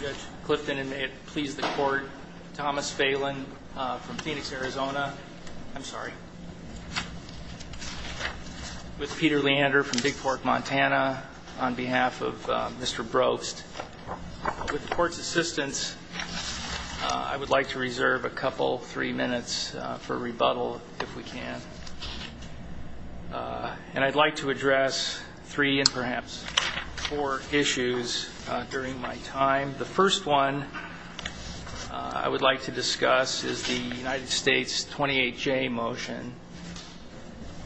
Judge Clifton and it please the court Thomas Phelan from Phoenix, Arizona. I'm sorry. With Peter Leander from Big Fork, Montana, on behalf of Mr. Brobst, with the court's assistance, I would like to reserve a couple, three minutes for rebuttal if we can. And I'd like to address three and perhaps four issues during my time. The first one I would like to discuss is the United States 28J motion,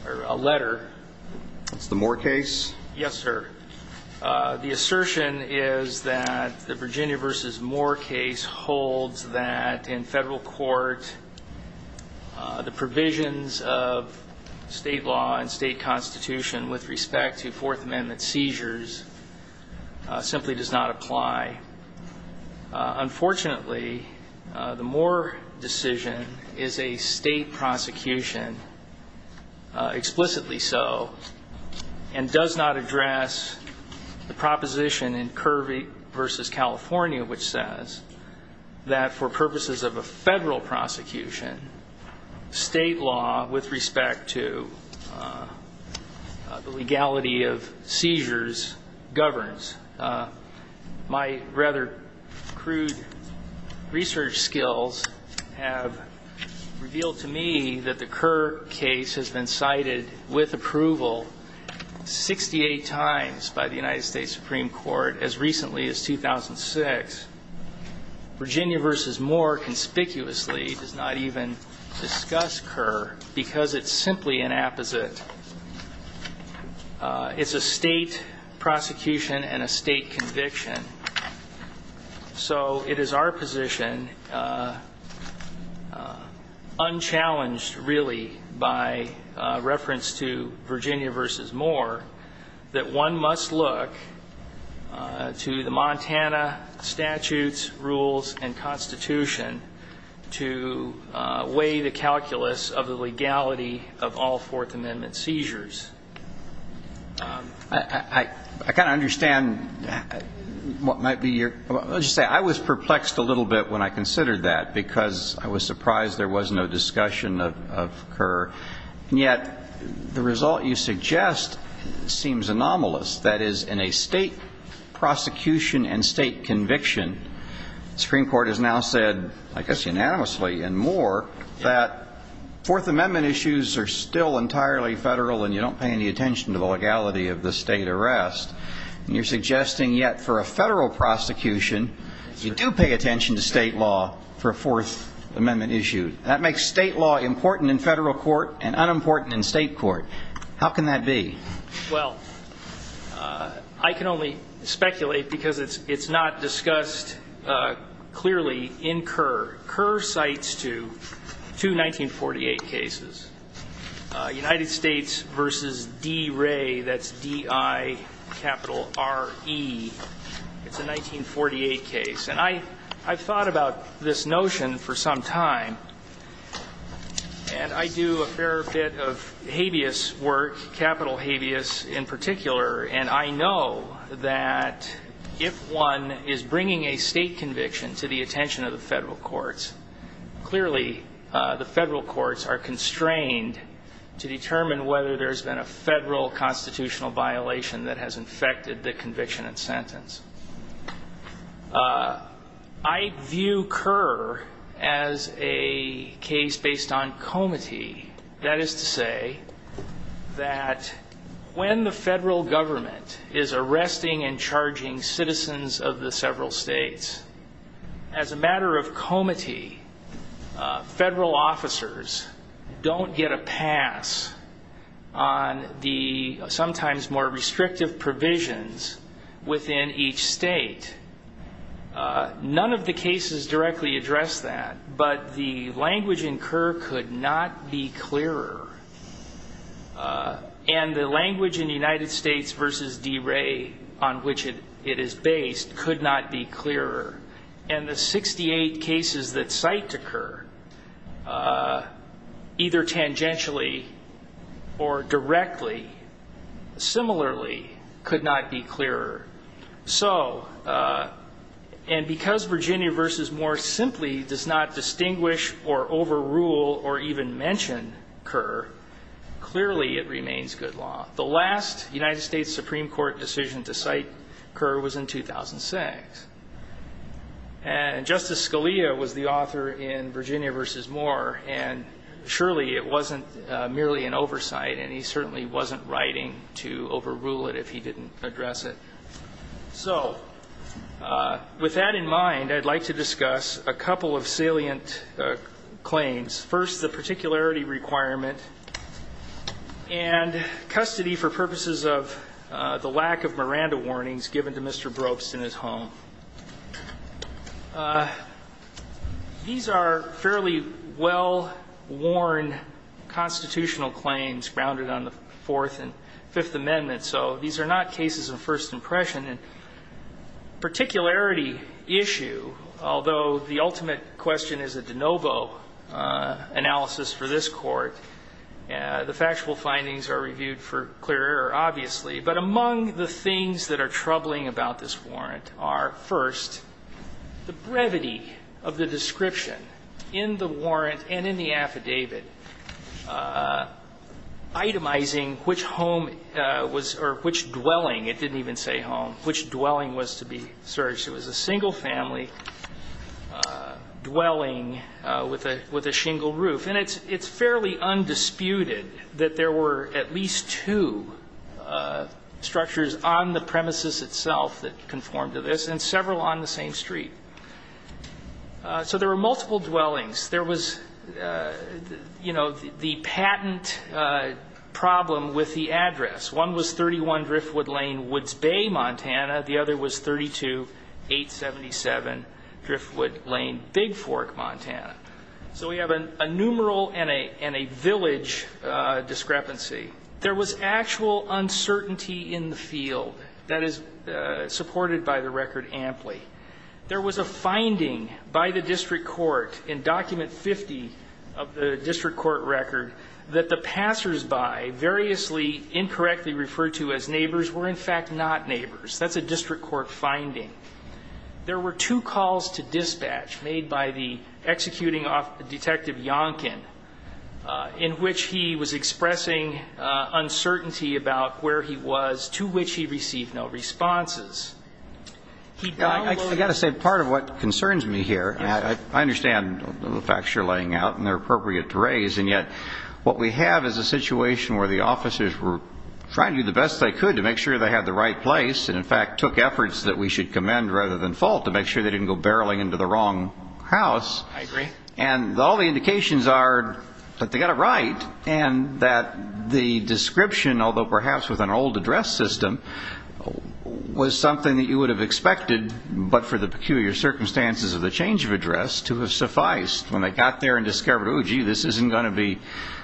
or letter. It's the Moore case? Yes, sir. The assertion is that the Virginia v. Moore case holds that in federal court the provisions of state law and state constitution with respect to Fourth Amendment seizures simply does not apply. Unfortunately, the Moore decision is a state prosecution, explicitly so, and does not address the proposition in Kirby v. California which says that for purposes of a federal prosecution, state law with respect to the legality of seizures governs. My rather crude research skills have revealed to me that the Kerr case has been cited with approval 68 times by the United States Supreme Court as recently as 2006. Virginia v. Moore conspicuously does not even discuss Kerr because it's simply an apposite. It's a state prosecution and a state conviction. So it is our position, unchallenged really by reference to Virginia v. Moore, that one must look to the Montana statutes, rules, and constitution to weigh the calculus of the legality of all Fourth Amendment seizures. I was perplexed a little bit when I considered that because I was surprised there was no discussion of Kerr, and yet the result you suggest seems anomalous. That is, in a state prosecution and state conviction, the Supreme Court has now said, I guess unanimously in Moore, that Fourth Amendment issues are still entirely federal and you don't pay any attention to the legality of the state arrest. And you're suggesting yet for a federal prosecution, you do pay attention to state law for a Fourth Amendment issue. That makes state law important in federal court and unimportant in state court. How can that be? Well, I can only speculate because it's not discussed clearly in Kerr. Kerr cites two 1948 cases, United States v. D. Ray, that's D-I, capital R-E. It's a 1948 case. And I've thought about this notion for some time, and I do a fair bit of habeas work, capital habeas in particular. And I know that if one is bringing a state conviction to the attention of the federal courts, clearly the federal courts are constrained to determine whether there's been a federal constitutional violation that has infected the conviction and sentence. I view Kerr as a case based on comity. That is to say that when the federal government is arresting and charging citizens of the several states, as a matter of comity, federal officers don't get a pass on the sometimes more restrictive provisions within each state. None of the cases directly address that, but the language in Kerr could not be clearer. And the language in United States v. D. Ray on which it is based could not be clearer. And the 68 cases that cite to Kerr, either tangentially or directly, similarly, could not be clearer. So, and because Virginia v. Moore simply does not distinguish or overrule or even mention Kerr, clearly it remains good law. The last United States Supreme Court decision to cite Kerr was in 2006. And Justice Scalia was the author in Virginia v. Moore, and surely it wasn't merely an oversight, and he certainly wasn't writing to overrule it if he didn't address it. So, with that in mind, I'd like to discuss a couple of salient claims. First, the particularity requirement and custody for purposes of the lack of Miranda warnings given to Mr. Brooks in his home. These are fairly well-worn constitutional claims grounded on the Fourth and Fifth Amendments, so these are not cases of first impression. And particularity issue, although the ultimate question is a de novo analysis for this Court, the factual findings are reviewed for clear error, obviously. But among the things that are troubling about this warrant are, first, the brevity of the description in the warrant and in the affidavit, itemizing which home was or which dwelling. It didn't even say home. Which dwelling was to be searched. It was a single-family dwelling with a shingle roof. And it's fairly undisputed that there were at least two structures on the premises itself that conformed to this, and several on the same street. So there were multiple dwellings. There was, you know, the patent problem with the address. One was 31 Driftwood Lane, Woods Bay, Montana. The other was 32-877 Driftwood Lane, Big Fork, Montana. So we have a numeral and a village discrepancy. There was actual uncertainty in the field. That is supported by the record amply. There was a finding by the district court in Document 50 of the district court record that the passers-by, variously incorrectly referred to as neighbors, were in fact not neighbors. That's a district court finding. There were two calls to dispatch made by the executing detective Yonkin, in which he was expressing uncertainty about where he was, to which he received no responses. I've got to say part of what concerns me here, I understand the facts you're laying out, and they're appropriate to raise, and yet what we have is a situation where the officers were trying to do the best they could to make sure they had the right place and, in fact, took efforts that we should commend rather than fault to make sure they didn't go barreling into the wrong house. I agree. And all the indications are that they got it right and that the description, although perhaps with an old address system, was something that you would have expected, but for the peculiar circumstances of the change of address, to have sufficed. When they got there and discovered, oh, gee, this isn't going to be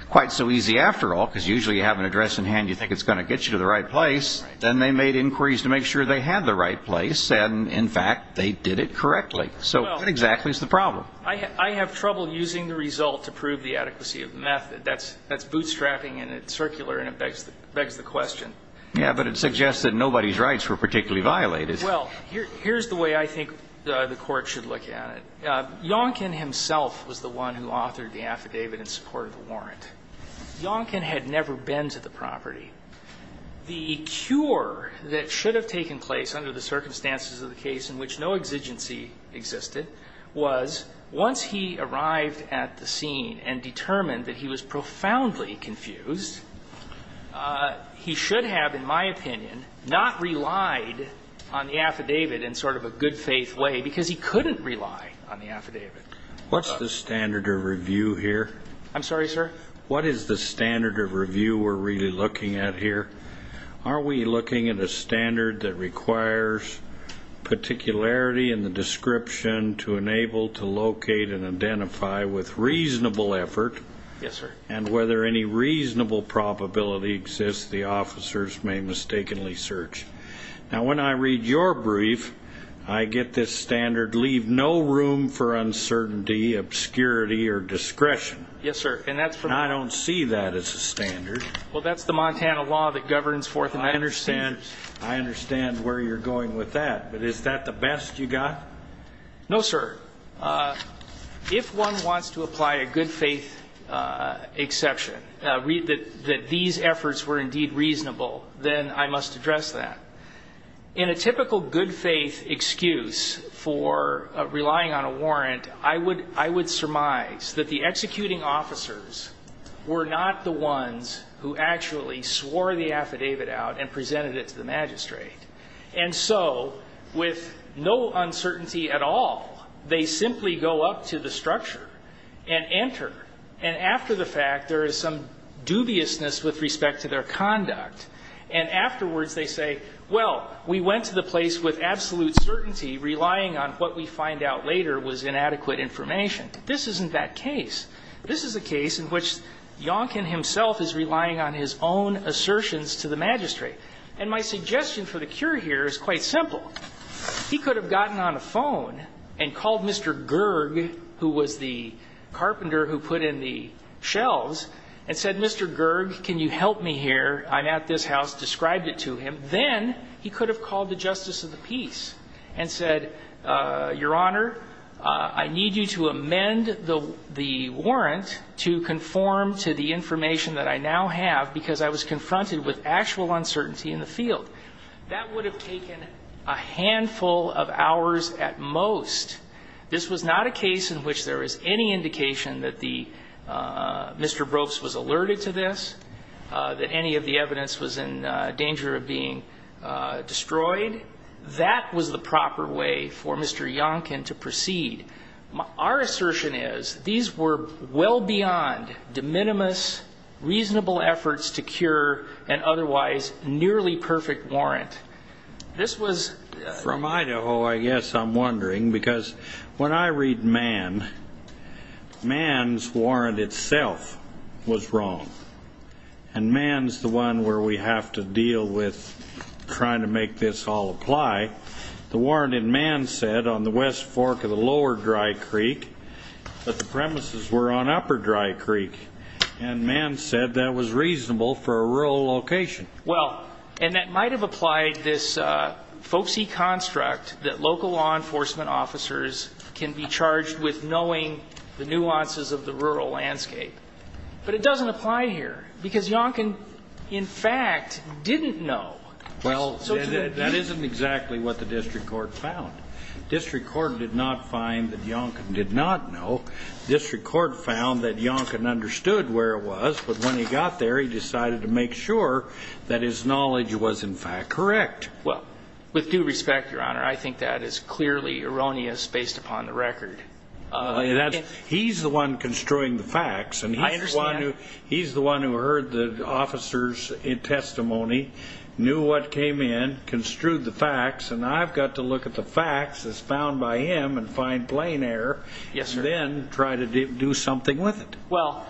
quite so easy after all, because usually you have an address in hand, you think it's going to get you to the right place, then they made inquiries to make sure they had the right place, and, in fact, they did it correctly. So what exactly is the problem? I have trouble using the result to prove the adequacy of the method. That's bootstrapping and it's circular and it begs the question. Yeah, but it suggests that nobody's rights were particularly violated. Well, here's the way I think the Court should look at it. Yonkin himself was the one who authored the affidavit in support of the warrant. Yonkin had never been to the property. The cure that should have taken place under the circumstances of the case in which no exigency existed was once he arrived at the scene and determined that he was profoundly confused, he should have, in my opinion, not relied on the affidavit in sort of a good-faith way because he couldn't rely on the affidavit. What's the standard of review here? I'm sorry, sir? What is the standard of review we're really looking at here? Are we looking at a standard that requires particularity in the description to enable to locate and identify with reasonable effort and whether any reasonable probability exists the officers may mistakenly search? Now, when I read your brief, I get this standard, leave no room for uncertainty, obscurity, or discretion. Yes, sir. And I don't see that as a standard. Well, that's the Montana law that governs Fourth Amendment procedures. I understand where you're going with that, but is that the best you've got? No, sir. If one wants to apply a good-faith exception, that these efforts were indeed reasonable, then I must address that. In a typical good-faith excuse for relying on a warrant, I would surmise that the executing officers were not the ones who actually swore the affidavit out and presented it to the magistrate. And so with no uncertainty at all, they simply go up to the structure and enter. And after the fact, there is some dubiousness with respect to their conduct. And afterwards they say, well, we went to the place with absolute certainty relying on what we find out later was inadequate information. This isn't that case. This is a case in which Yonkin himself is relying on his own assertions to the magistrate. And my suggestion for the cure here is quite simple. He could have gotten on the phone and called Mr. Gerg, who was the carpenter who put in the shelves, and said, Mr. Gerg, can you help me here? I'm at this house, described it to him. Then he could have called the justice of the peace and said, Your Honor, I need you to amend the warrant to conform to the information that I now have because I was confronted with actual uncertainty in the field. That would have taken a handful of hours at most. This was not a case in which there was any indication that Mr. Brooks was alerted to this, that any of the evidence was in danger of being destroyed. That was the proper way for Mr. Yonkin to proceed. Our assertion is these were well beyond de minimis reasonable efforts to cure an otherwise nearly perfect warrant. This was from Idaho, I guess I'm wondering, because when I read Mann, Mann's warrant itself was wrong. And Mann's the one where we have to deal with trying to make this all apply. The warrant in Mann said on the west fork of the lower Dry Creek that the premises were on upper Dry Creek. And Mann said that was reasonable for a rural location. Well, and that might have applied this folksy construct that local law enforcement officers can be charged with knowing the nuances of the rural landscape. But it doesn't apply here because Yonkin, in fact, didn't know. Well, that isn't exactly what the district court found. District court did not find that Yonkin did not know. But when he got there, he decided to make sure that his knowledge was, in fact, correct. Well, with due respect, Your Honor, I think that is clearly erroneous based upon the record. He's the one construing the facts. I understand. And he's the one who heard the officer's testimony, knew what came in, construed the facts, and I've got to look at the facts as found by him and find plain error. Yes, sir. Then try to do something with it. Well,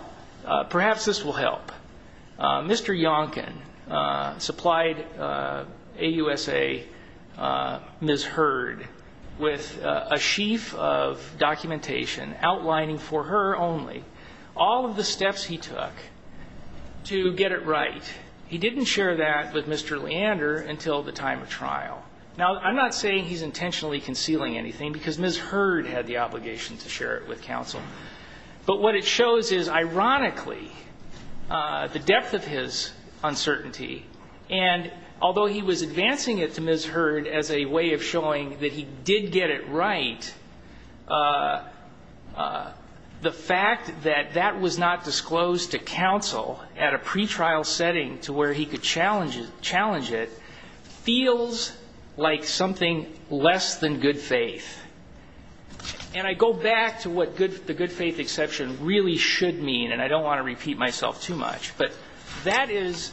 perhaps this will help. Mr. Yonkin supplied AUSA Ms. Hurd with a sheaf of documentation outlining for her only all of the steps he took to get it right. He didn't share that with Mr. Leander until the time of trial. Now, I'm not saying he's intentionally concealing anything because Ms. Hurd had the obligation to share it with counsel. But what it shows is, ironically, the depth of his uncertainty, and although he was advancing it to Ms. Hurd as a way of showing that he did get it right, the fact that that was not disclosed to counsel at a pretrial setting to where he could challenge it feels like something less than good faith. And I go back to what the good faith exception really should mean, and I don't want to repeat myself too much. But that is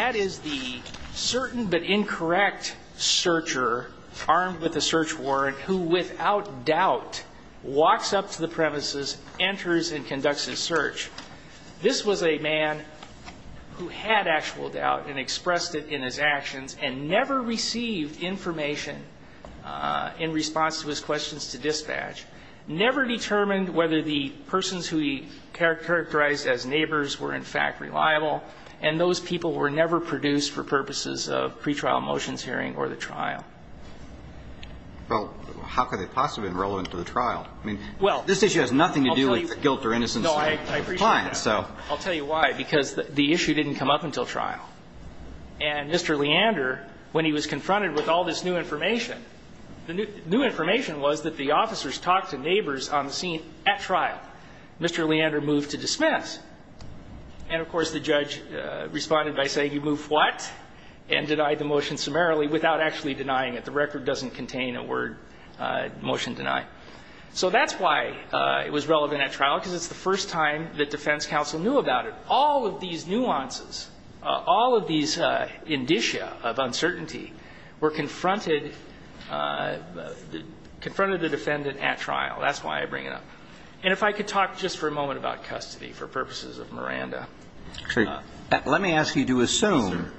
the certain but incorrect searcher armed with a search warrant who, without doubt, walks up to the premises, enters, and conducts his search. This was a man who had actual doubt and expressed it in his actions and never received information in response to his questions to dispatch, never determined whether the persons who he characterized as neighbors were in fact reliable, and those people were never produced for purposes of pretrial motions hearing or the trial. Well, how could they possibly have been relevant to the trial? I mean, this issue has nothing to do with guilt or innocence of the client. No, I appreciate that. I'll tell you why. Because the issue didn't come up until trial. And Mr. Leander, when he was confronted with all this new information, the new information was that the officers talked to neighbors on the scene at trial. Mr. Leander moved to dismiss. And, of course, the judge responded by saying, you moved what? And denied the motion summarily without actually denying it. The record doesn't contain a word, motion denied. So that's why it was relevant at trial, because it's the first time that defense counsel knew about it. But all of these nuances, all of these indicia of uncertainty were confronted, confronted the defendant at trial. That's why I bring it up. And if I could talk just for a moment about custody for purposes of Miranda. Sure. Let me ask you to assume,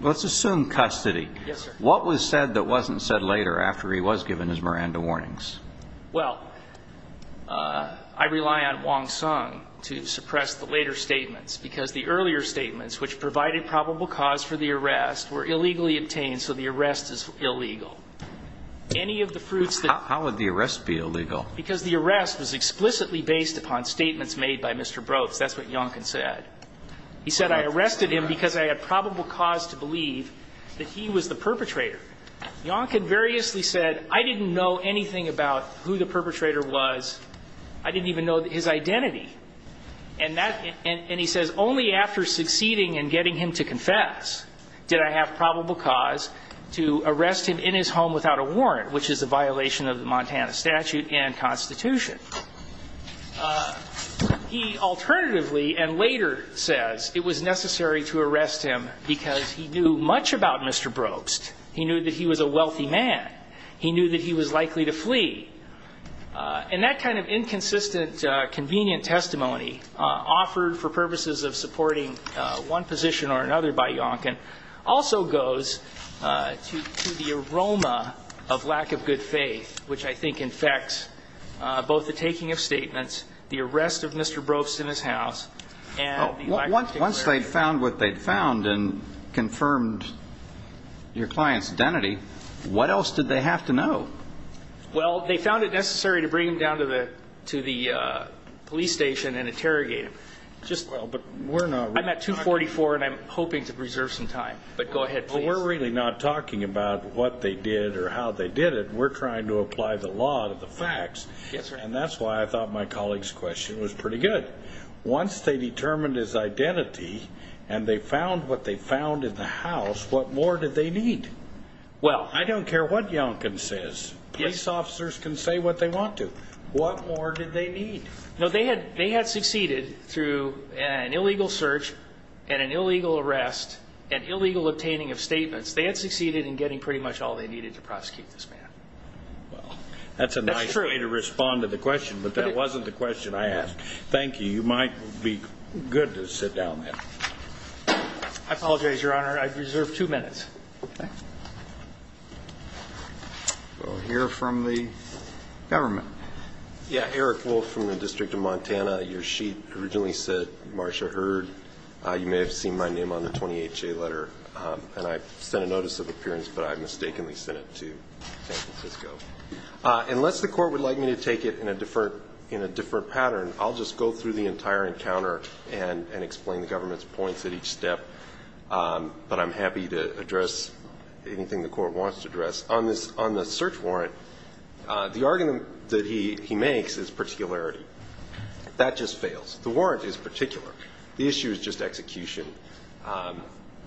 let's assume custody. Yes, sir. What was said that wasn't said later after he was given his Miranda warnings? Well, I rely on Wong Sung to suppress the later statements, because the earlier statements, which provided probable cause for the arrest, were illegally obtained, so the arrest is illegal. Any of the fruits that How would the arrest be illegal? Because the arrest was explicitly based upon statements made by Mr. Brooks. That's what Yonkin said. He said, I arrested him because I had probable cause to believe that he was the perpetrator. Yonkin variously said, I didn't know anything about who the perpetrator was. I didn't even know his identity. And he says, only after succeeding in getting him to confess did I have probable cause to arrest him in his home without a warrant, which is a violation of the Montana statute and Constitution. He alternatively and later says it was necessary to arrest him because he knew much about Mr. Brooks. He knew that he was a wealthy man. He knew that he was likely to flee. And that kind of inconsistent, convenient testimony offered for purposes of supporting one position or another by Yonkin also goes to the aroma of lack of good faith, which I think infects both the taking of statements, the arrest of Mr. Brooks in his house, and the lack of declaration. Once they'd found what they'd found and confirmed your client's identity, what else did they have to know? Well, they found it necessary to bring him down to the police station and interrogate him. I'm at 244, and I'm hoping to preserve some time. But go ahead, please. We're really not talking about what they did or how they did it. We're trying to apply the law to the facts. And that's why I thought my colleague's question was pretty good. Once they determined his identity and they found what they found in the house, what more did they need? I don't care what Yonkin says. Police officers can say what they want to. What more did they need? They had succeeded through an illegal search and an illegal arrest and illegal obtaining of statements. They had succeeded in getting pretty much all they needed to prosecute this man. That's a nice way to respond to the question, but that wasn't the question I asked. Thank you. You might be good to sit down now. I apologize, Your Honor. I reserve two minutes. Okay. We'll hear from the government. Yeah, Eric Wolfe from the District of Montana. Your sheet originally said Marcia Heard. You may have seen my name on the 20HA letter, and I sent a notice of appearance, but I mistakenly sent it to San Francisco. Unless the court would like me to take it in a different pattern, I'll just go through the entire encounter and explain the government's points at each step, but I'm happy to address anything the court wants to address. On the search warrant, the argument that he makes is particularity. That just fails. The warrant is particular. The issue is just execution.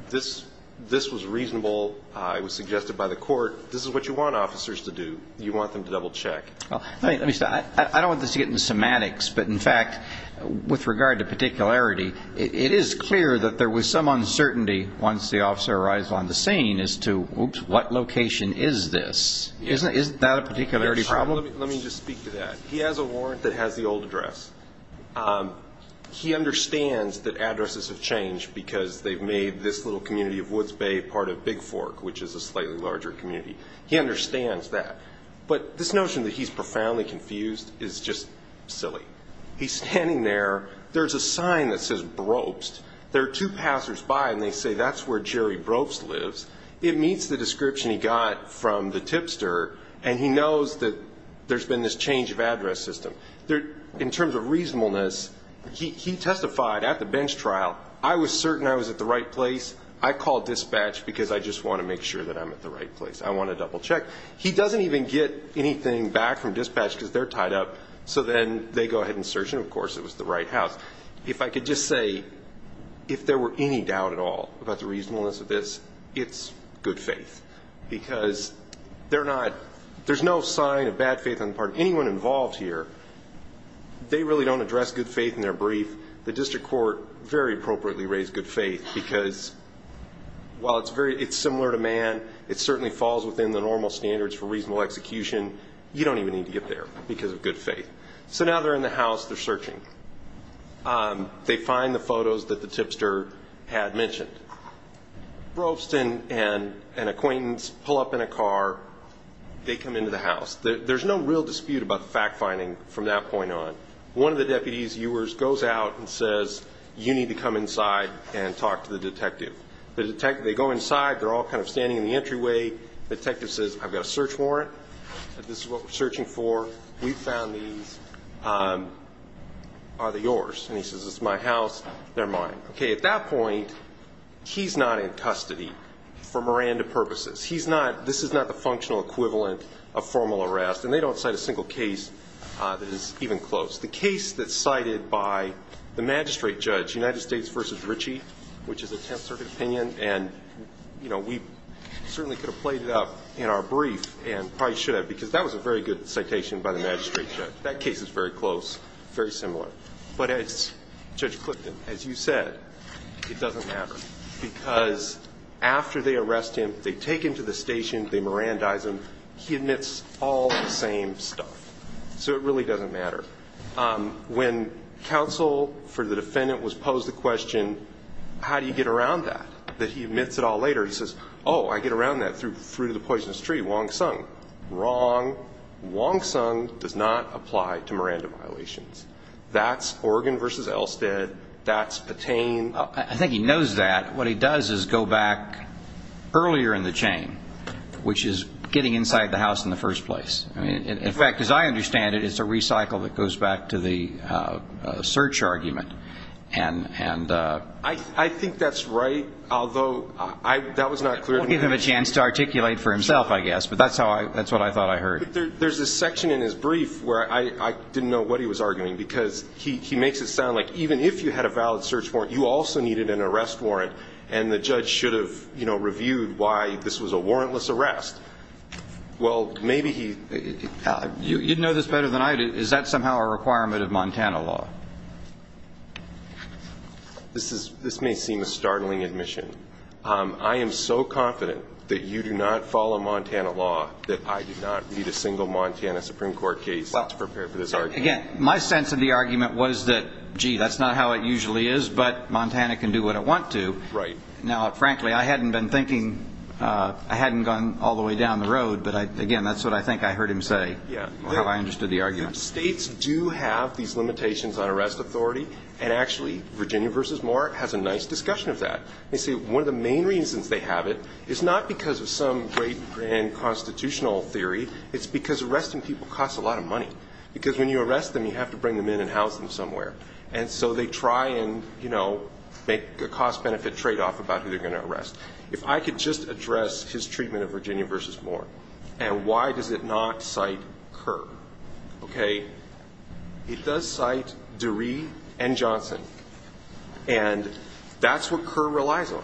This was reasonable. It was suggested by the court. This is what you want officers to do. You want them to double check. I don't want this to get into semantics, but, in fact, with regard to particularity, it is clear that there was some uncertainty once the officer arrives on the scene as to what location is this. Isn't that a particularity problem? Let me just speak to that. He has a warrant that has the old address. He understands that addresses have changed because they've made this little community of Woods Bay part of Big Fork, which is a slightly larger community. He understands that. But this notion that he's profoundly confused is just silly. He's standing there. There's a sign that says Brobst. There are two passersby, and they say that's where Jerry Brobst lives. It meets the description he got from the tipster, and he knows that there's been this change of address system. In terms of reasonableness, he testified at the bench trial, I was certain I was at the right place. I called dispatch because I just want to make sure that I'm at the right place. I want to double-check. He doesn't even get anything back from dispatch because they're tied up, so then they go ahead and search, and, of course, it was the right house. If I could just say, if there were any doubt at all about the reasonableness of this, it's good faith, because there's no sign of bad faith on the part of anyone involved here. They really don't address good faith in their brief. The district court very appropriately raised good faith because, while it's similar to man, it certainly falls within the normal standards for reasonable execution. You don't even need to get there because of good faith. So now they're in the house. They're searching. They find the photos that the tipster had mentioned. Brobst and an acquaintance pull up in a car. They come into the house. There's no real dispute about fact-finding from that point on. One of the deputy's viewers goes out and says, you need to come inside and talk to the detective. They go inside. They're all kind of standing in the entryway. The detective says, I've got a search warrant. This is what we're searching for. We found these. Are they yours? And he says, it's my house. They're mine. Okay, at that point, he's not in custody for Miranda purposes. This is not the functional equivalent of formal arrest, and they don't cite a single case that is even close. The case that's cited by the magistrate judge, United States v. Ritchie, which is a Tenth Circuit opinion, and we certainly could have played it up in our brief and probably should have because that was a very good citation by the magistrate judge. That case is very close, very similar. But as Judge Clifton, as you said, it doesn't matter because after they arrest him, they take him to the station. They Mirandize him. He admits all the same stuff. So it really doesn't matter. When counsel for the defendant was posed the question, how do you get around that, that he admits it all later? He says, oh, I get around that through the poisonous tree, Wong Sung. Wrong. Wong Sung does not apply to Miranda violations. That's Oregon v. Elstead. That's Patain. I think he knows that. What he does is go back earlier in the chain, which is getting inside the house in the first place. In fact, as I understand it, it's a recycle that goes back to the search argument. I think that's right, although that was not clear to me. We'll give him a chance to articulate for himself, I guess, but that's what I thought I heard. There's a section in his brief where I didn't know what he was arguing because he makes it sound like even if you had a valid search warrant, you also needed an arrest warrant, and the judge should have reviewed why this was a warrantless arrest. Well, maybe he... You'd know this better than I do. Is that somehow a requirement of Montana law? This may seem a startling admission. I am so confident that you do not follow Montana law that I do not need a single Montana Supreme Court case to prepare for this argument. Again, my sense of the argument was that, gee, that's not how it usually is, but Montana can do what it wants to. Now, frankly, I hadn't been thinking... I hadn't gone all the way down the road, but, again, that's what I think I heard him say, or how I understood the argument. States do have these limitations on arrest authority, and actually Virginia v. Moore has a nice discussion of that. They say one of the main reasons they have it is not because of some great grand constitutional theory, it's because arresting people costs a lot of money because when you arrest them, you have to bring them in and house them somewhere. And so they try and, you know, make a cost-benefit tradeoff about who they're going to arrest. If I could just address his treatment of Virginia v. Moore, and why does it not cite Kerr? Okay, it does cite DeRee and Johnson, and that's what Kerr relies on.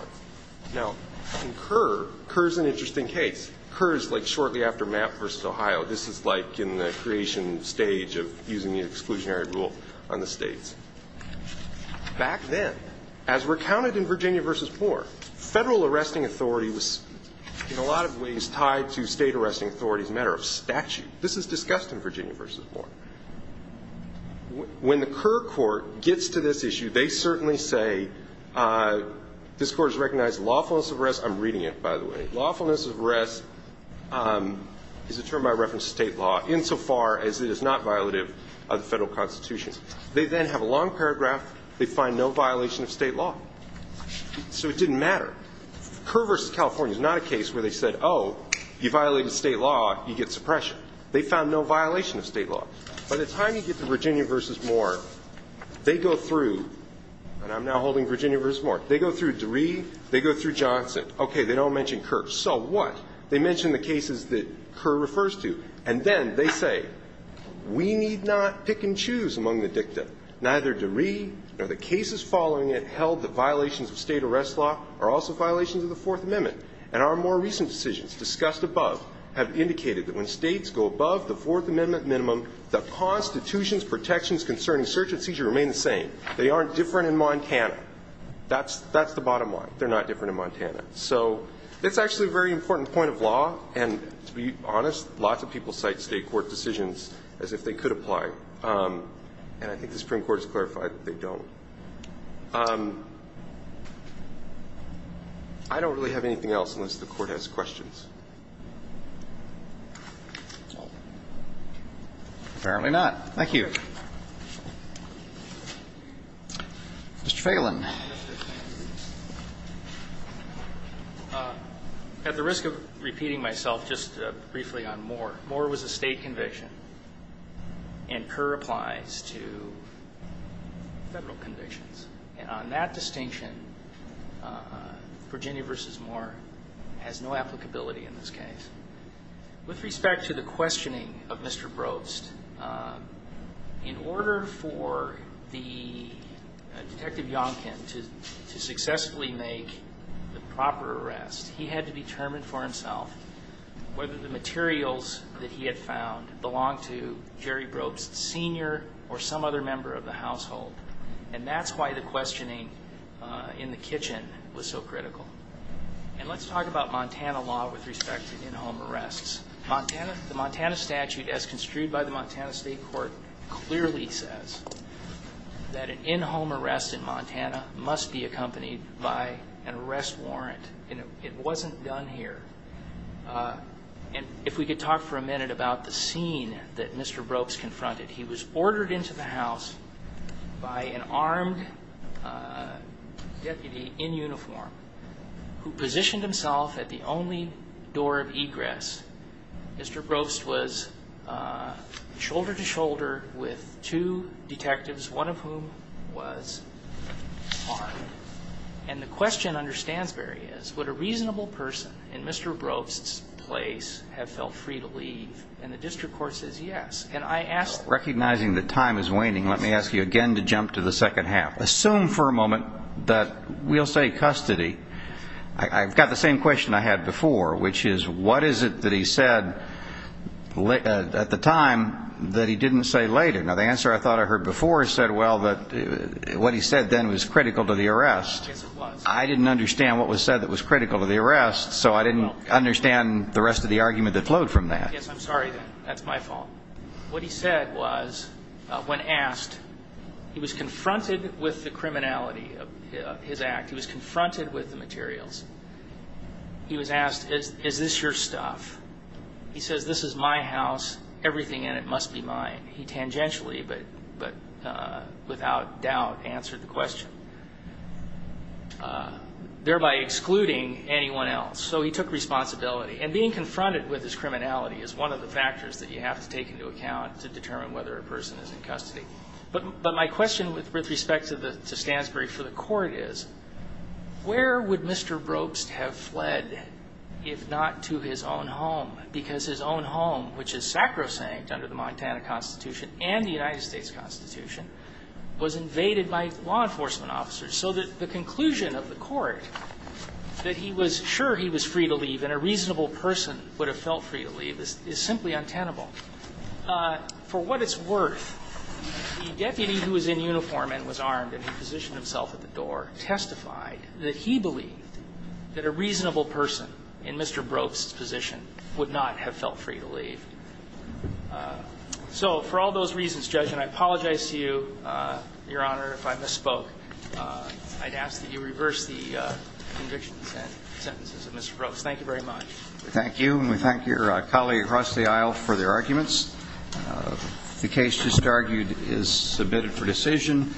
Now, in Kerr, Kerr is an interesting case. Kerr is, like, shortly after Mapp v. Ohio. This is, like, in the creation stage of using the exclusionary rule on the states. Back then, as recounted in Virginia v. Moore, Federal arresting authority was in a lot of ways tied to State arresting authority as a matter of statute. This is discussed in Virginia v. Moore. When the Kerr court gets to this issue, they certainly say this Court has recognized lawfulness of arrest. I'm reading it, by the way. Lawfulness of arrest is a term I reference to State law, insofar as it is not violative of the Federal Constitution. They then have a long paragraph. They find no violation of State law. So it didn't matter. Kerr v. California is not a case where they said, oh, you violated State law, you get suppression. They found no violation of State law. By the time you get to Virginia v. Moore, they go through, and I'm now holding Virginia v. Moore, they go through DeRee, they go through Johnson. Okay, they don't mention Kerr. So what? They mention the cases that Kerr refers to. And then they say, we need not pick and choose among the dicta. Neither DeRee nor the cases following it held that violations of State arrest law are also violations of the Fourth Amendment. And our more recent decisions, discussed above, have indicated that when States go above the Fourth Amendment minimum, the Constitution's protections concerning search and seizure remain the same. That's the bottom line. They're not different in Montana. So it's actually a very important point of law. And to be honest, lots of people cite State court decisions as if they could apply. And I think the Supreme Court has clarified that they don't. I don't really have anything else unless the Court has questions. Apparently not. Thank you. Mr. Phelan. At the risk of repeating myself just briefly on Moore, Moore was a State conviction, and Kerr applies to Federal convictions. And on that distinction, Virginia v. Moore has no applicability in this case. With respect to the questioning of Mr. Brost, in order for the Detective Yonkin, to successfully make the proper arrest, he had to determine for himself whether the materials that he had found belonged to Jerry Brost Sr. or some other member of the household. And that's why the questioning in the kitchen was so critical. And let's talk about Montana law with respect to in-home arrests. The Montana statute, as construed by the Montana State Court, clearly says that an in-home arrest in Montana must be accompanied by an arrest warrant. And it wasn't done here. And if we could talk for a minute about the scene that Mr. Brost confronted. He was ordered into the house by an armed deputy in uniform Mr. Brost was shoulder-to-shoulder with two detectives, one of whom was armed. And the question, understands very well, is would a reasonable person in Mr. Brost's place have felt free to leave? And the district court says yes. Recognizing that time is waning, let me ask you again to jump to the second half. Assume for a moment that we'll say custody. I've got the same question I had before, which is, what is it that he said at the time that he didn't say later? Now, the answer I thought I heard before said, well, that what he said then was critical to the arrest. I didn't understand what was said that was critical to the arrest, so I didn't understand the rest of the argument that flowed from that. Yes, I'm sorry then. That's my fault. What he said was, when asked, he was confronted with the criminality of his act. He was confronted with the materials. He was asked, is this your stuff? He says, this is my house. Everything in it must be mine. He tangentially, but without doubt, answered the question, thereby excluding anyone else. So he took responsibility. And being confronted with his criminality is one of the factors that you have to take into account to determine whether a person is in custody. But my question with respect to Stansbury for the Court is, where would Mr. Brobst have fled if not to his own home? Because his own home, which is sacrosanct under the Montana Constitution and the United States Constitution, was invaded by law enforcement officers. So the conclusion of the Court that he was sure he was free to leave and a reasonable person would have felt free to leave is simply untenable. For what it's worth, the deputy who was in uniform and was armed and who positioned himself at the door testified that he believed that a reasonable person in Mr. Brobst's position would not have felt free to leave. So for all those reasons, Judge, and I apologize to you, Your Honor, if I misspoke, I'd ask that you reverse the convictions and sentences of Mr. Brobst. Thank you very much. Thank you, and we thank your colleague across the aisle for their arguments. The case just argued is submitted for decision.